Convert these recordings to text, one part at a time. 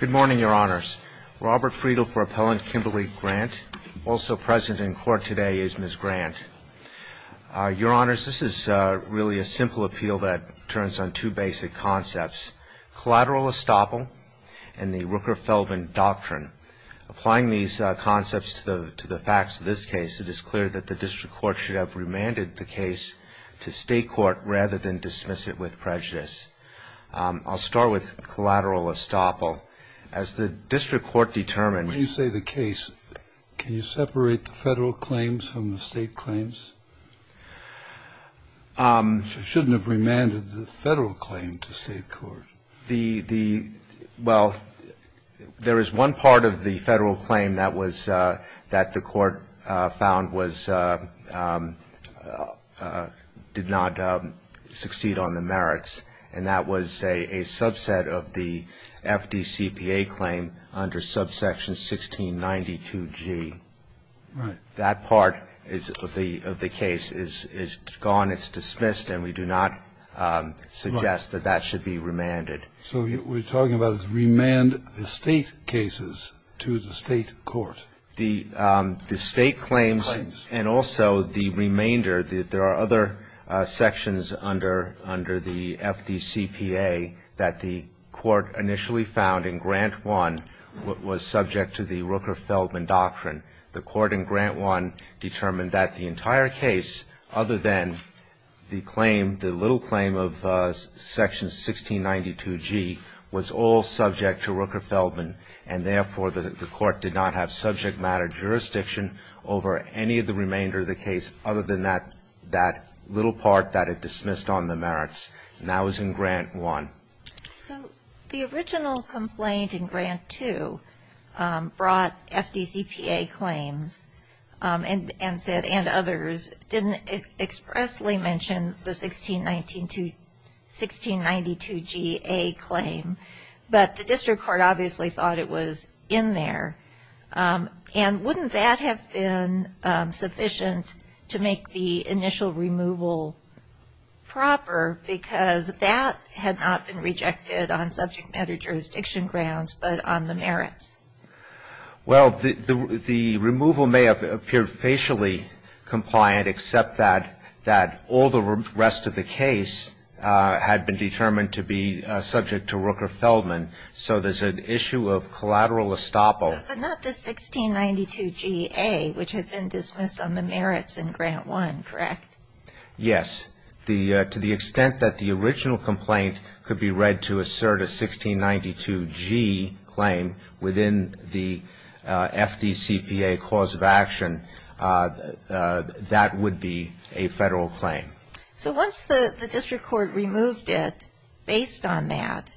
Good morning, Your Honors. Robert Friedel for Appellant Kimberly Grant. Also present in court today is Ms. Grant. Your Honors, this is really a simple appeal that turns on two basic concepts. Collateral estoppel and the Rooker-Feldman Doctrine. Applying these concepts to the facts of this case, it is clear that the District Court should have remanded the case to State Court rather than dismiss it with prejudice. I'll start with collateral estoppel. As the District Court determined When you say the case, can you separate the Federal claims from the State claims? You shouldn't have remanded the Federal claim to State Court. Well, there is one part of the Federal claim that the Court found did not succeed on the merits, and that was a subset of the FDCPA claim under subsection 1692G. Right. So that part of the case is gone, it's dismissed, and we do not suggest that that should be remanded. So what you're talking about is remand the State cases to the State court? The State claims and also the remainder. There are other sections under the FDCPA that the Court initially found in Grant 1 was subject to the Rooker-Feldman Doctrine. The Court in Grant 1 determined that the entire case, other than the claim, the little claim of section 1692G, was all subject to Rooker-Feldman, and therefore the Court did not have subject matter jurisdiction over any of the remainder of the case other than that little part that it dismissed on the merits. And that was in Grant 1. So the original complaint in Grant 2 brought FDCPA claims and said, and others, didn't expressly mention the 1692G-A claim, but the district court obviously thought it was in there. And wouldn't that have been sufficient to make the initial removal proper, because that had not been rejected on subject matter jurisdiction grounds but on the merits? Well, the removal may have appeared facially compliant, except that all the rest of the case had been determined to be subject to Rooker-Feldman. So there's an issue of collateral estoppel. But not the 1692G-A, which had been dismissed on the merits in Grant 1, correct? Yes. To the extent that the original complaint could be read to assert a 1692G claim within the FDCPA cause of action, that would be a Federal claim. So once the district court removed it based on that,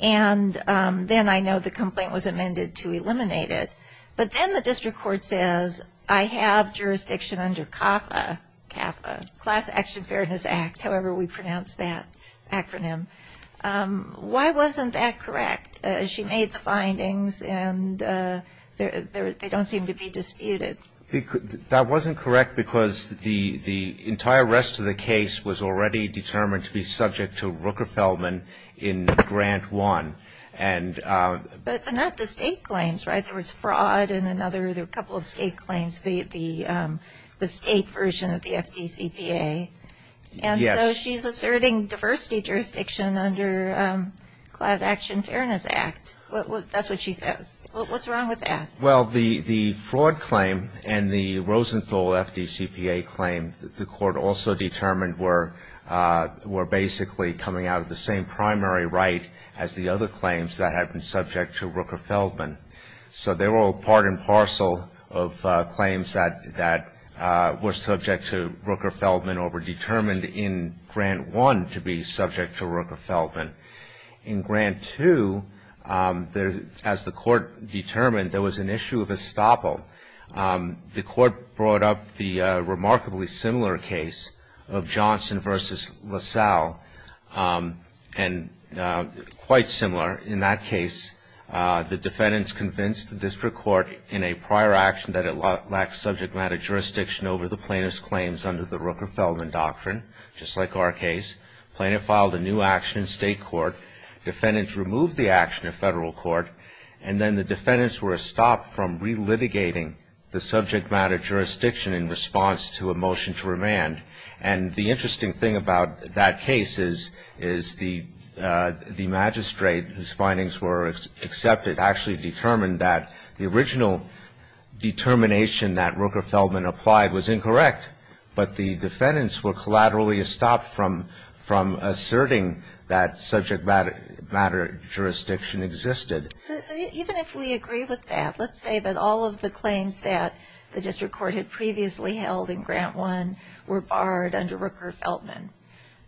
and then I know the complaint was amended to eliminate it, but then the district court says, I have jurisdiction under CAFA, CAFA, Class Action Fairness Act, however we pronounce that acronym. Why wasn't that correct? She made the findings, and they don't seem to be disputed. That wasn't correct because the entire rest of the case was already determined to be subject to Rooker-Feldman in Grant 1. But not the state claims, right? There was fraud and another couple of state claims, the state version of the FDCPA. Yes. And so she's asserting diversity jurisdiction under Class Action Fairness Act. That's what she says. What's wrong with that? Well, the fraud claim and the Rosenthal FDCPA claim, the court also determined, were basically coming out of the same primary right as the other claims that had been subject to Rooker-Feldman. So they were all part and parcel of claims that were subject to Rooker-Feldman or were determined in Grant 1 to be subject to Rooker-Feldman. In Grant 2, as the court determined, there was an issue of estoppel. The court brought up the remarkably similar case of Johnson v. LaSalle, and quite similar. In that case, the defendants convinced the district court in a prior action that it lacked subject matter jurisdiction over the plaintiff's claims under the Rooker-Feldman doctrine, just like our case. Plaintiff filed a new action in state court. Defendants removed the action in federal court. And then the defendants were estopped from relitigating the subject matter jurisdiction in response to a motion to remand. And the interesting thing about that case is the magistrate, whose findings were accepted, actually determined that the original determination that Rooker-Feldman applied was incorrect. But the defendants were collaterally estopped from asserting that subject matter jurisdiction existed. Even if we agree with that, let's say that all of the claims that the district court had previously held in Grant 1 were barred under Rooker-Feldman,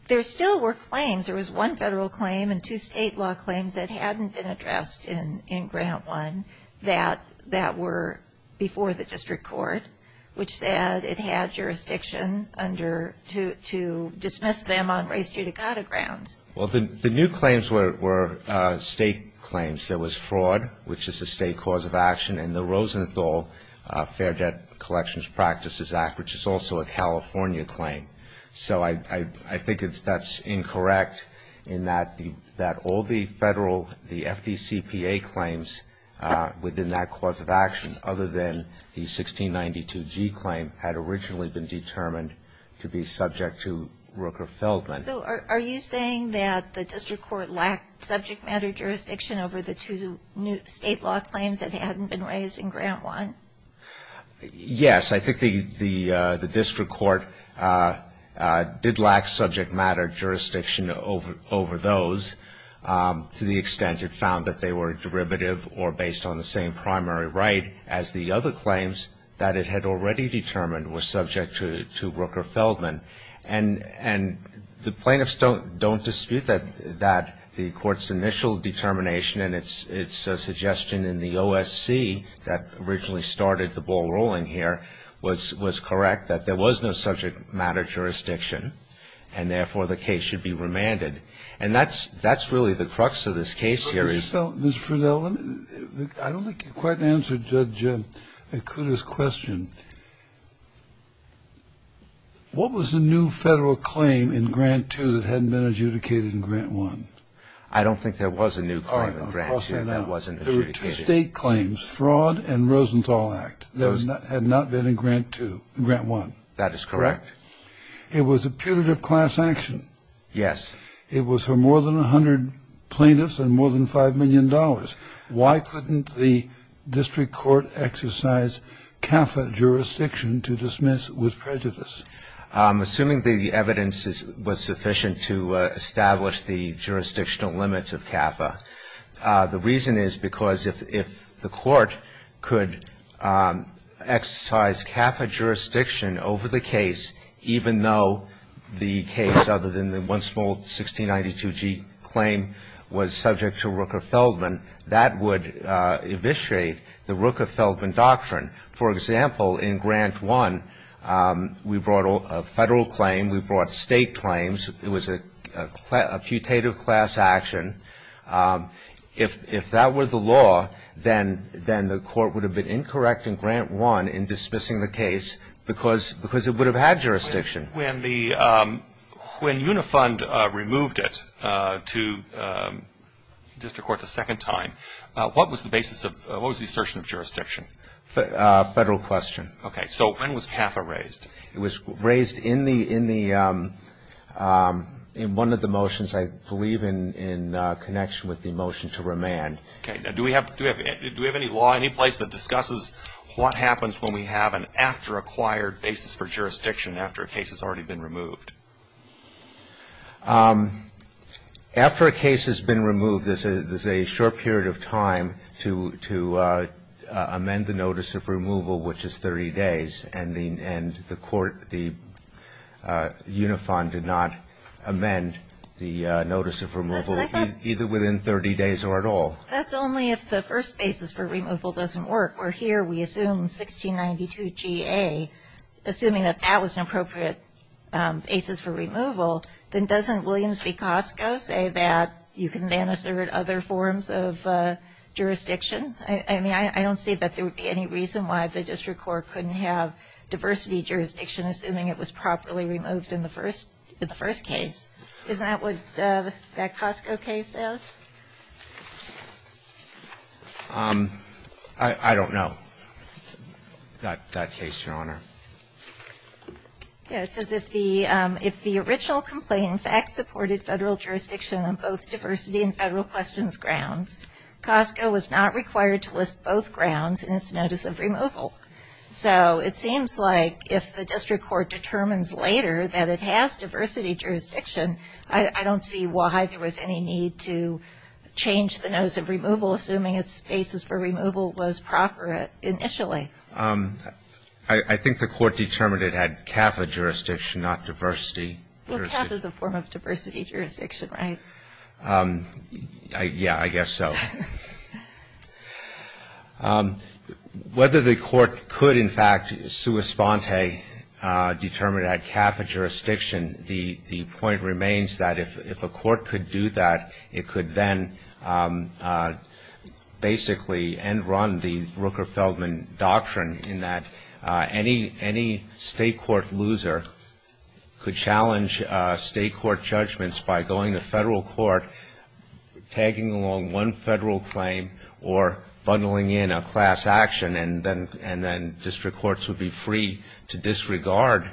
there still were claims. There was one federal claim and two state law claims that hadn't been addressed in Grant 1 that were before the district court, which said it had jurisdiction under to dismiss them on race-judicata grounds. Well, the new claims were state claims. There was fraud, which is a state cause of action, and the Rosenthal Fair Debt Collections Practices Act, which is also a California claim. So I think that's incorrect in that all the federal, the FDCPA claims within that cause of action, other than the 1692G claim, had originally been determined to be subject to Rooker-Feldman. So are you saying that the district court lacked subject matter jurisdiction over the two state law claims that hadn't been raised in Grant 1? Yes. I think the district court did lack subject matter jurisdiction over those to the extent it found that they were derivative or based on the same primary right as the other claims that it had already determined were subject to Rooker-Feldman. And the plaintiffs don't dispute that, that the court's initial determination and its suggestion in the OSC that originally started the ball rolling here was correct, that there was no subject matter jurisdiction and, therefore, the case should be remanded. And that's really the crux of this case here. Mr. Friedell, I don't think you quite answered Judge Ikuda's question. What was the new federal claim in Grant 2 that hadn't been adjudicated in Grant 1? I don't think there was a new claim in Grant 2 that wasn't adjudicated. All right. There were two state claims, Fraud and Rosenthal Act, that had not been in Grant 2, Grant 1. That is correct. It was a putative class action. Yes. It was for more than 100 plaintiffs and more than $5 million. Why couldn't the district court exercise CAFA jurisdiction to dismiss with prejudice? Assuming the evidence was sufficient to establish the jurisdictional limits of CAFA. The reason is because if the court could exercise CAFA jurisdiction over the case, even though the case, other than the one small 1692G claim, was subject to Rooker-Feldman, that would eviscerate the Rooker-Feldman doctrine. For example, in Grant 1, we brought a federal claim, we brought state claims. It was a putative class action. If that were the law, then the court would have been incorrect in Grant 1 in dismissing the case because it would have had jurisdiction. When Unifund removed it to district court the second time, what was the basis of, what was the assertion of jurisdiction? Federal question. Okay. So when was CAFA raised? It was raised in one of the motions, I believe, in connection with the motion to remand. Okay. Now, do we have any law, any place that discusses what happens when we have an after-acquired basis for jurisdiction after a case has already been removed? After a case has been removed, there's a short period of time to amend the notice of removal, which is 30 days. And the court, Unifund, did not amend the notice of removal either within 30 days or at all. That's only if the first basis for removal doesn't work. Where here we assume 1692 GA, assuming that that was an appropriate basis for removal, then doesn't Williams v. Costco say that you can then assert other forms of jurisdiction? I mean, I don't see that there would be any reason why the district court couldn't have diversity jurisdiction assuming it was properly removed in the first case. Isn't that what that Costco case says? I don't know that case, Your Honor. Yeah. It says if the original complaint in fact supported Federal jurisdiction on both diversity and Federal questions grounds, Costco was not required to list both grounds in its notice of removal. So it seems like if the district court determines later that it has diversity jurisdiction, I don't see why there was any need to change the notice of removal, assuming its basis for removal was proper initially. I think the court determined it had CAFA jurisdiction, not diversity. Well, CAFA is a form of diversity jurisdiction, right? Yeah, I guess so. Whether the court could in fact sua sponte determine it had CAFA jurisdiction, the point remains that if a court could do that, it could then basically end run the Rooker-Feldman doctrine in that any state court loser could challenge state court judgments by going to Federal court, tagging along one Federal claim or bundling in a class action, and then district courts would be free to disregard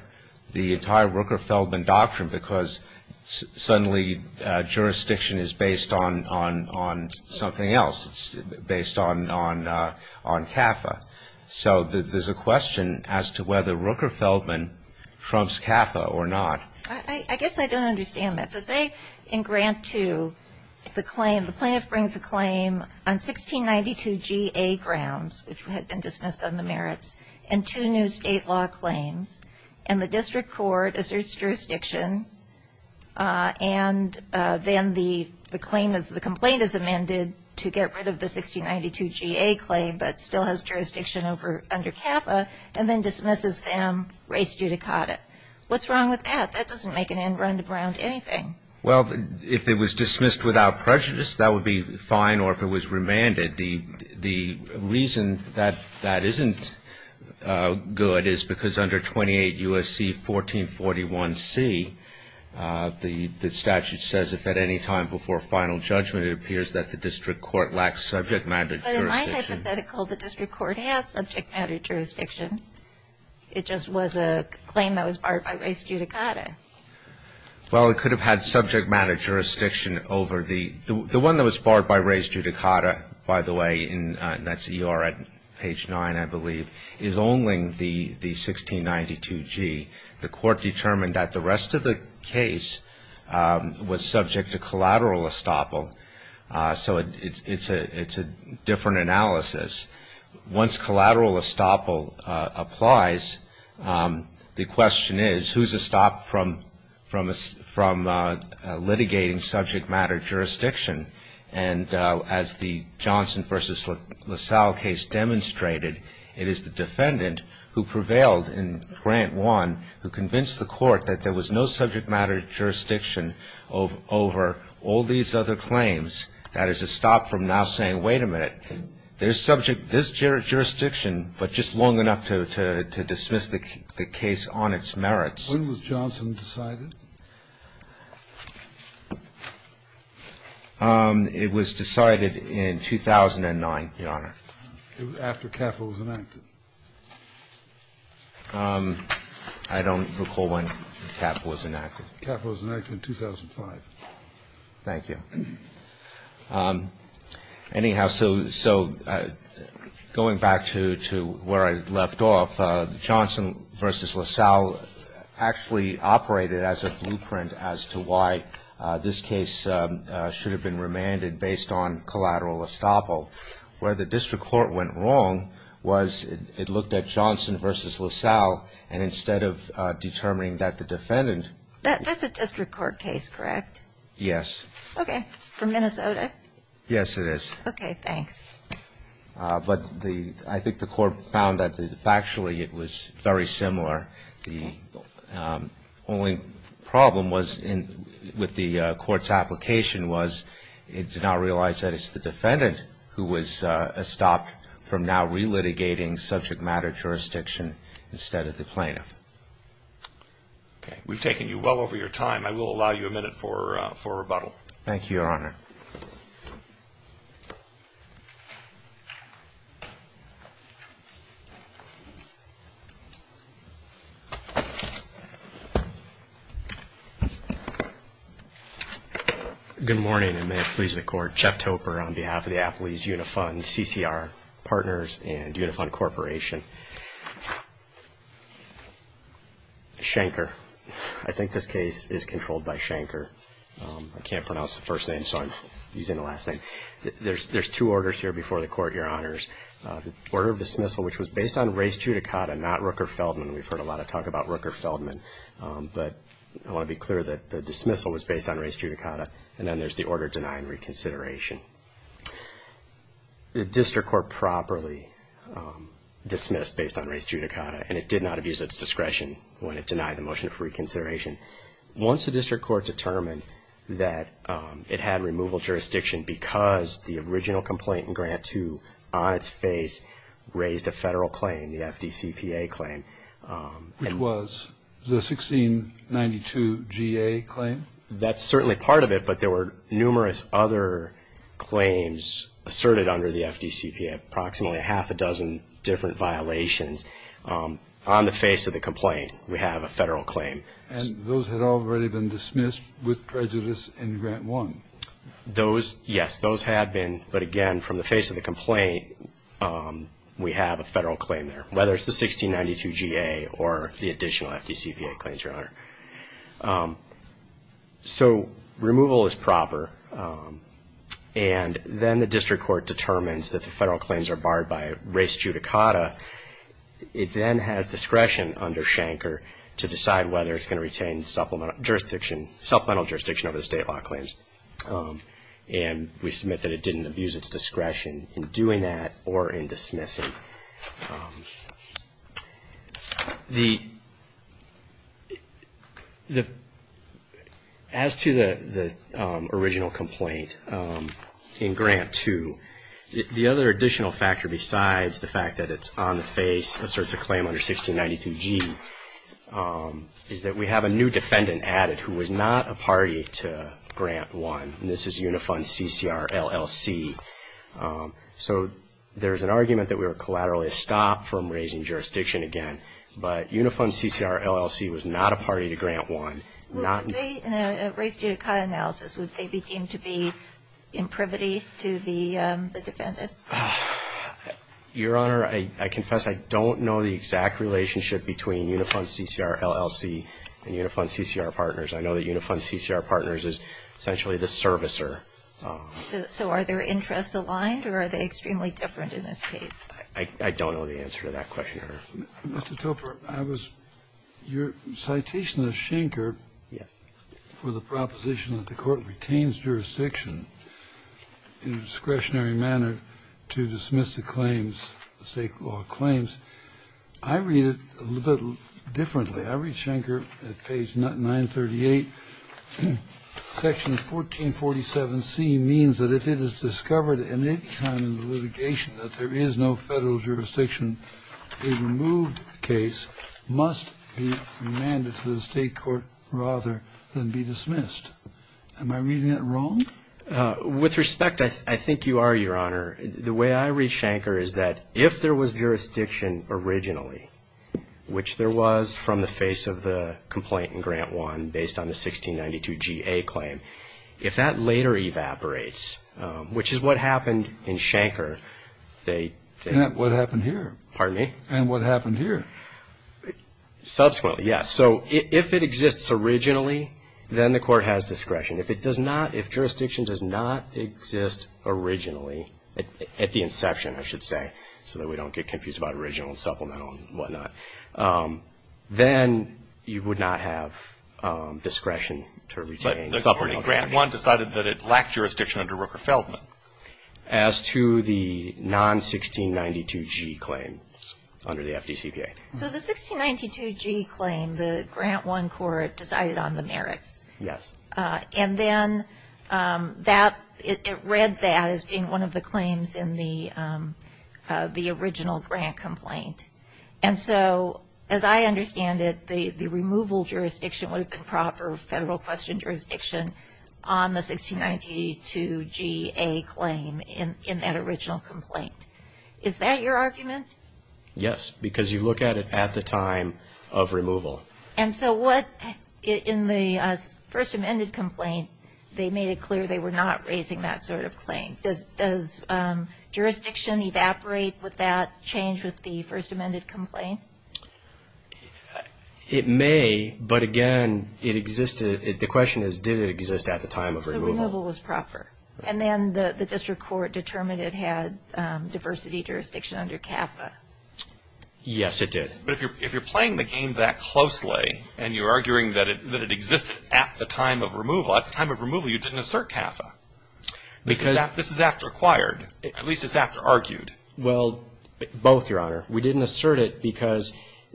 the entire Rooker-Feldman doctrine because suddenly jurisdiction is based on something else. It's based on CAFA. So there's a question as to whether Rooker-Feldman trumps CAFA or not. I guess I don't understand that. So say in grant two, the plaintiff brings a claim on 1692 GA grounds, which had been dismissed on the merits, and two new state law claims, and the district court asserts jurisdiction, and then the complaint is amended to get rid of the 1692 GA claim, but still has jurisdiction under CAFA, and then dismisses them, race judicata. What's wrong with that? That doesn't make an end run to ground anything. Well, if it was dismissed without prejudice, that would be fine, or if it was remanded. The reason that that isn't good is because under 28 U.S.C. 1441C, the statute says if at any time before final judgment it appears that the district court lacks subject matter jurisdiction. But in my hypothetical, the district court has subject matter jurisdiction. It just was a claim that was barred by race judicata. Well, it could have had subject matter jurisdiction over the one that was barred by race judicata, by the way, and that's ER at page 9, I believe, is only the 1692 G. The court determined that the rest of the case was subject to collateral estoppel, so it's a different analysis. Once collateral estoppel applies, the question is, who's estopped from litigating subject matter jurisdiction? And as the Johnson v. LaSalle case demonstrated, it is the defendant who prevailed in Grant 1, who convinced the court that there was no subject matter jurisdiction over all these other claims. That is a stop from now saying, wait a minute, there's subject to this jurisdiction, but just long enough to dismiss the case on its merits. When was Johnson decided? It was decided in 2009, Your Honor. After Capito was enacted. I don't recall when Capito was enacted. Capito was enacted in 2005. Thank you. Anyhow, so going back to where I left off, the Johnson v. LaSalle actually operated as a blueprint as to why this case should have been remanded based on collateral estoppel. Where the district court went wrong was it looked at Johnson v. LaSalle, and instead of determining that the defendant. That's a district court case, correct? Yes. Okay. From Minnesota? Yes, it is. Okay, thanks. But I think the court found that factually it was very similar. The only problem with the court's application was it did not realize that it's the defendant who was stopped from now relitigating subject matter jurisdiction instead of the plaintiff. Okay. We've taken you well over your time. I will allow you a minute for rebuttal. Thank you, Your Honor. Good morning, and may it please the Court. Jeff Topper on behalf of the Applebee's Unifund CCR Partners and Unifund Corporation. Shanker. I think this case is controlled by Shanker. I can't pronounce the first name, so I'm using the last name. There's two orders here before the Court, Your Honors. The order of dismissal, which was based on res judicata, not Rooker-Feldman. We've heard a lot of talk about Rooker-Feldman, but I want to be clear that the dismissal was based on res judicata. And then there's the order denying reconsideration. The district court properly dismissed based on res judicata, and it did not abuse its discretion when it denied the motion for reconsideration. Once the district court determined that it had removal jurisdiction because the original complainant, Grant, who on its face raised a federal claim, the FDCPA claim. Which was the 1692 GA claim. That's certainly part of it, but there were numerous other claims asserted under the FDCPA, approximately half a dozen different violations. On the face of the complaint, we have a federal claim. And those had already been dismissed with prejudice in Grant 1. Those, yes, those had been. But again, from the face of the complaint, we have a federal claim there. Whether it's the 1692 GA or the additional FDCPA claims, Your Honor. So removal is proper. And then the district court determines that the federal claims are barred by res judicata. It then has discretion under Schenker to decide whether it's going to retain supplemental jurisdiction over the state law claims. And we submit that it didn't abuse its discretion in doing that or in dismissing. As to the original complaint in Grant 2, the other additional factor besides the fact that it's on the face, asserts a claim under 1692 G, is that we have a new defendant added who was not a party to Grant 1. And this is Unifund CCRLLC. So there's an argument that we were collaterally stopped from raising jurisdiction again. But Unifund CCRLLC was not a party to Grant 1. In a res judicata analysis, would they be deemed to be in privity to the defendant? Your Honor, I confess I don't know the exact relationship between Unifund CCRLLC and Unifund CCR Partners. I know that Unifund CCR Partners is essentially the servicer. So are their interests aligned or are they extremely different in this case? I don't know the answer to that question, Your Honor. Mr. Topper, I was your citation of Schenker. Yes. For the proposition that the Court retains jurisdiction in a discretionary manner to dismiss the claims, the state law claims. I read it a little differently. I read Schenker at page 938. Section 1447C means that if it is discovered at any time in the litigation that there is no federal jurisdiction, a removed case must be remanded to the state court rather than be dismissed. Am I reading it wrong? With respect, I think you are, Your Honor. The way I read Schenker is that if there was jurisdiction originally, which there was from the face of the complaint in Grant 1 based on the 1692GA claim, if that later evaporates, which is what happened in Schenker, they What happened here? Pardon me? And what happened here? Subsequently, yes. So if it exists originally, then the Court has discretion. If it does not, if jurisdiction does not exist originally, at the inception I should say, so that we don't get confused about original and supplemental and whatnot, then you would not have discretion to retain. But the Court in Grant 1 decided that it lacked jurisdiction under Rooker-Feldman. As to the non-1692G claims under the FDCPA. So the 1692G claim, the Grant 1 Court decided on the merits. Yes. And then that, it read that as being one of the claims in the original grant complaint. And so, as I understand it, the removal jurisdiction would have been proper federal question jurisdiction on the 1692GA claim in that original complaint. Is that your argument? Yes, because you look at it at the time of removal. And so what, in the first amended complaint, they made it clear they were not raising that sort of claim. Does jurisdiction evaporate with that change with the first amended complaint? It may, but again, it existed. The question is did it exist at the time of removal. So removal was proper. And then the District Court determined it had diversity jurisdiction under CAFA. Yes, it did. But if you're playing the game that closely and you're arguing that it existed at the time of removal, at the time of removal you didn't assert CAFA. This is after acquired. At least it's after argued. Well, both, Your Honor. We didn't assert it because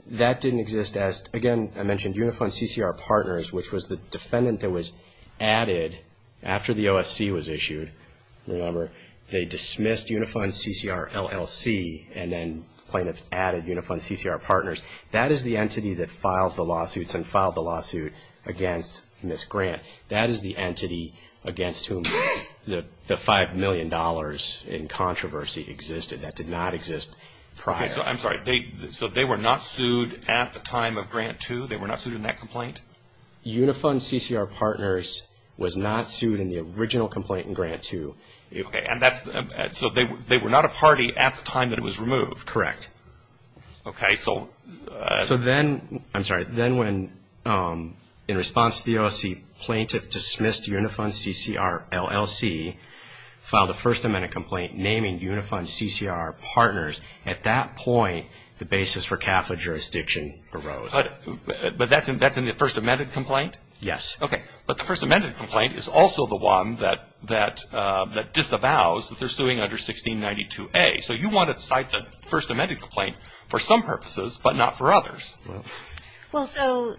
that didn't exist as, again, I mentioned Unifund CCR Partners, which was the defendant that was added after the OSC was issued. Remember, they dismissed Unifund CCR LLC and then plaintiffs added Unifund CCR Partners. That is the entity that files the lawsuits and filed the lawsuit against Ms. Grant. That is the entity against whom the $5 million in controversy existed. That did not exist prior. I'm sorry. So they were not sued at the time of Grant 2? They were not sued in that complaint? Unifund CCR Partners was not sued in the original complaint in Grant 2. Okay. So they were not a party at the time that it was removed? Correct. Okay. So then, I'm sorry, then when, in response to the OSC, plaintiff dismissed Unifund CCR LLC, filed a First Amendment complaint naming Unifund CCR Partners. At that point, the basis for CAFA jurisdiction arose. But that's in the First Amendment complaint? Yes. Okay. But the First Amendment complaint is also the one that disavows that they're suing under 1692A. So you wanted to cite the First Amendment complaint for some purposes but not for others. Well, so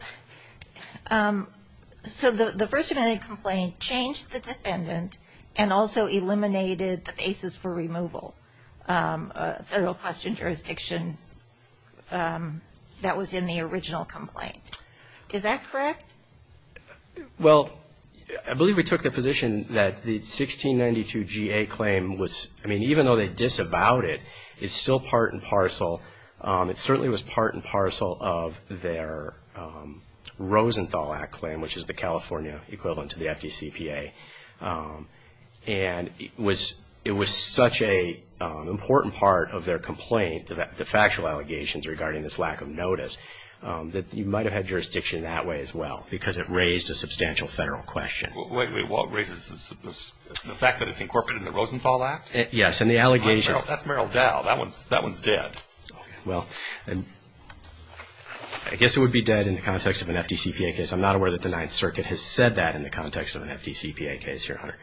the First Amendment complaint changed the defendant and also eliminated the basis for removal of federal caution jurisdiction that was in the original complaint. Is that correct? Well, I believe we took the position that the 1692GA claim was, I mean, even though they disavowed it, it's still part and parcel. It certainly was part and parcel of their Rosenthal Act claim, which is the California equivalent to the FDCPA. And it was such an important part of their complaint, the factual allegations regarding this lack of notice, that you might have had jurisdiction that way as well because it raised a substantial federal question. Wait, wait. Raises the fact that it's incorporated in the Rosenthal Act? Yes. And the allegations. That's Merrill Dowell. That one's dead. Well, I guess it would be dead in the context of an FDCPA case. I'm not aware that the Ninth Circuit has said that in the context of an FDCPA case here, Hunter.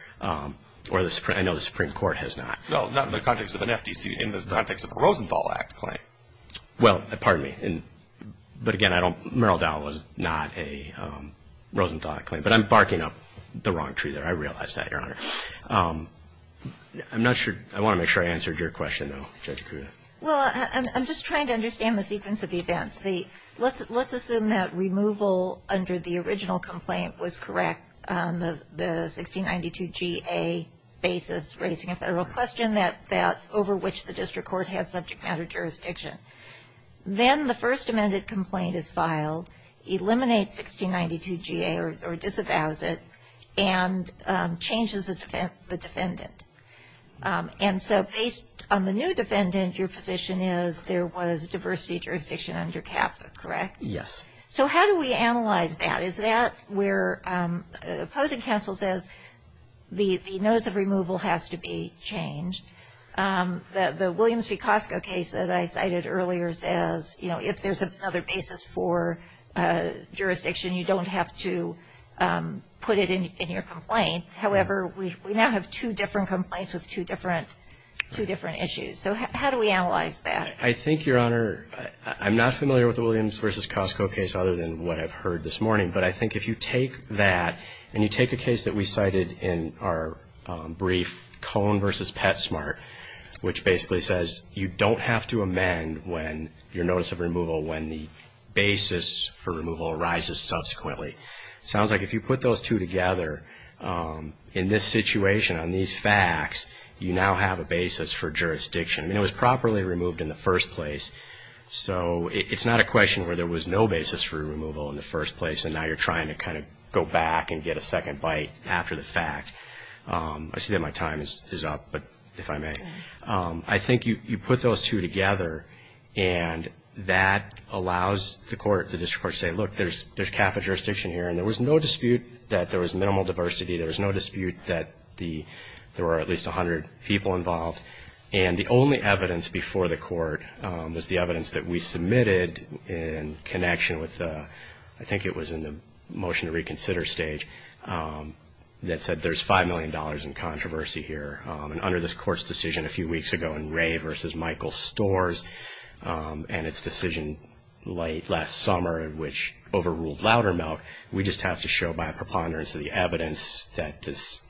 Or I know the Supreme Court has not. No, not in the context of an FDC, in the context of a Rosenthal Act claim. Well, pardon me. But again, Merrill Dowell was not a Rosenthal Act claim. But I'm barking up the wrong tree there. I realize that, Your Honor. I'm not sure. I want to make sure I answered your question, though, Judge Kruger. Well, I'm just trying to understand the sequence of events. Let's assume that removal under the original complaint was correct on the 1692 GA basis, raising a federal question that over which the district court had subject matter jurisdiction. Then the first amended complaint is filed, eliminates 1692 GA or disavows it, and changes the defendant. And so based on the new defendant, your position is there was diversity jurisdiction under CAFA, correct? Yes. So how do we analyze that? Is that where the opposing counsel says the notice of removal has to be changed? The Williams v. Costco case that I cited earlier says, you know, if there's another basis for jurisdiction, you don't have to put it in your complaint. However, we now have two different complaints with two different issues. So how do we analyze that? I think, Your Honor, I'm not familiar with the Williams v. Costco case other than what I've heard this morning. But I think if you take that and you take a case that we cited in our brief, Cone v. PetSmart, which basically says you don't have to amend your notice of removal when the basis for removal arises subsequently. It sounds like if you put those two together in this situation on these facts, you now have a basis for jurisdiction. I mean, it was properly removed in the first place. So it's not a question where there was no basis for removal in the first place and now you're trying to kind of go back and get a second bite after the fact. I see that my time is up, if I may. I think you put those two together and that allows the court, the district court to say, look, there's CAFA jurisdiction here. And there was no dispute that there was minimal diversity. There was no dispute that there were at least 100 people involved. And the only evidence before the court was the evidence that we submitted in connection with, I think it was in the motion to reconsider stage, that said there's $5 million in controversy here. And under this court's decision a few weeks ago in Ray v. Michael Storrs and its decision late last summer which overruled Loudermilk, we just have to show by a preponderance of the evidence that this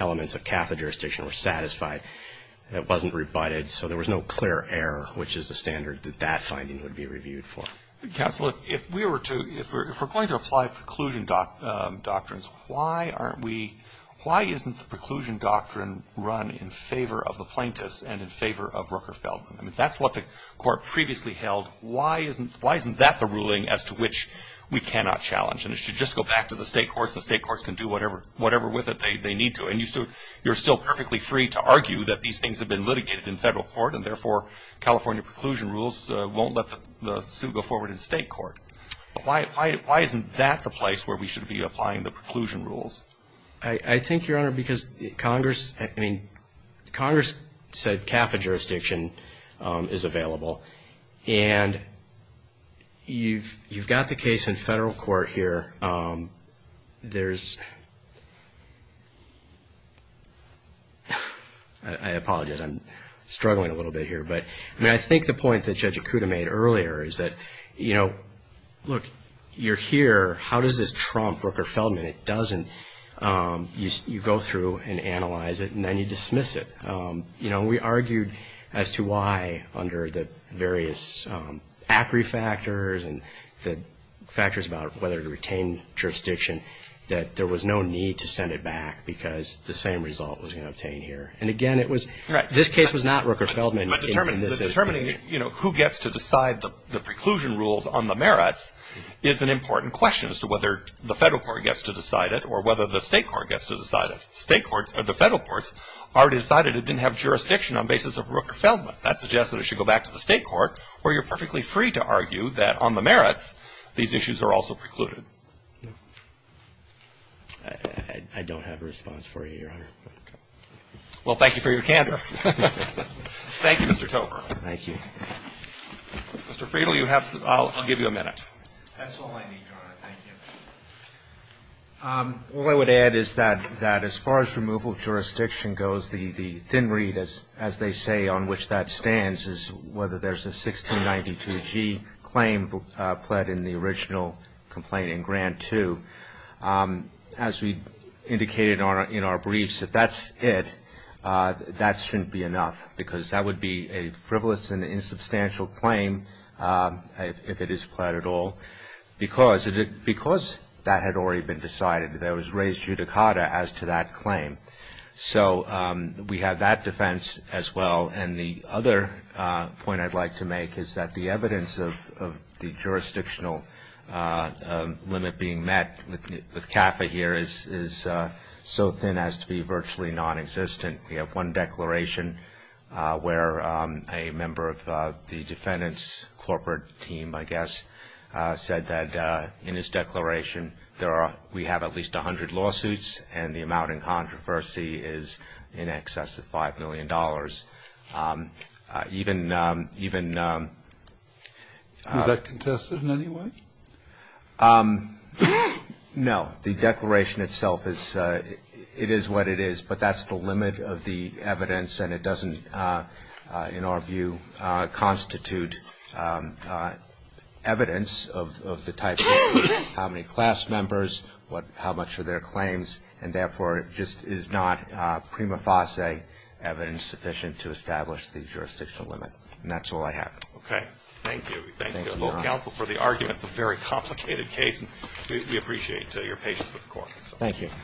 elements of CAFA jurisdiction were satisfied. It wasn't rebutted, so there was no clear error, which is the standard that that finding would be reviewed for. Counsel, if we were to, if we're going to apply preclusion doctrines, why aren't we, why isn't the preclusion doctrine run in favor of the plaintiffs and in favor of Rooker Feldman? I mean, that's what the court previously held. Why isn't that the ruling as to which we cannot challenge? And it should just go back to the state courts and the state courts can do whatever with it they need to. And you're still perfectly free to argue that these things have been litigated in federal court and therefore California preclusion rules won't let the suit go forward in state court. But why isn't that the place where we should be applying the preclusion rules? I think, Your Honor, because Congress, I mean, Congress said CAFA jurisdiction is available. And you've got the case in federal court here. There's, I apologize, I'm struggling a little bit here. But, I mean, I think the point that Judge Acuda made earlier is that, you know, look, you're here. How does this trump Rooker Feldman? It doesn't. You go through and analyze it and then you dismiss it. And, you know, we argued as to why under the various ACRI factors and the factors about whether to retain jurisdiction that there was no need to send it back because the same result was going to obtain here. And, again, it was, this case was not Rooker Feldman. But determining, you know, who gets to decide the preclusion rules on the merits is an important question as to whether the federal court gets to decide it or whether the state court gets to decide it. State courts or the federal courts already decided it didn't have jurisdiction on the basis of Rooker Feldman. That suggests that it should go back to the state court where you're perfectly free to argue that on the merits these issues are also precluded. I don't have a response for you, Your Honor. Well, thank you for your candor. Thank you, Mr. Tober. Thank you. Mr. Friedel, you have, I'll give you a minute. That's all I need, Your Honor. Thank you. All I would add is that as far as removal of jurisdiction goes, the thin read as they say on which that stands is whether there's a 1692G claim pled in the original complaint in Grant 2. As we indicated in our briefs, if that's it, that shouldn't be enough because that would be a frivolous and insubstantial claim if it is pled at all. Because that had already been decided, there was raised judicata as to that claim. So we have that defense as well. And the other point I'd like to make is that the evidence of the jurisdictional limit being met with CAFA here is so thin as to be virtually nonexistent. We have one declaration where a member of the defendant's corporate team, I guess, said that in his declaration we have at least 100 lawsuits and the amount in controversy is in excess of $5 million. Even ---- Was that contested in any way? No. The declaration itself is what it is. But that's the limit of the evidence. And it doesn't, in our view, constitute evidence of the type of how many class members, how much are their claims, and therefore it just is not prima facie evidence sufficient to establish the jurisdictional limit. And that's all I have. Okay. Thank you. Thank you. Thank you, counsel, for the argument. It's a very complicated case. And we appreciate your patience with the court. Thank you. Thank you.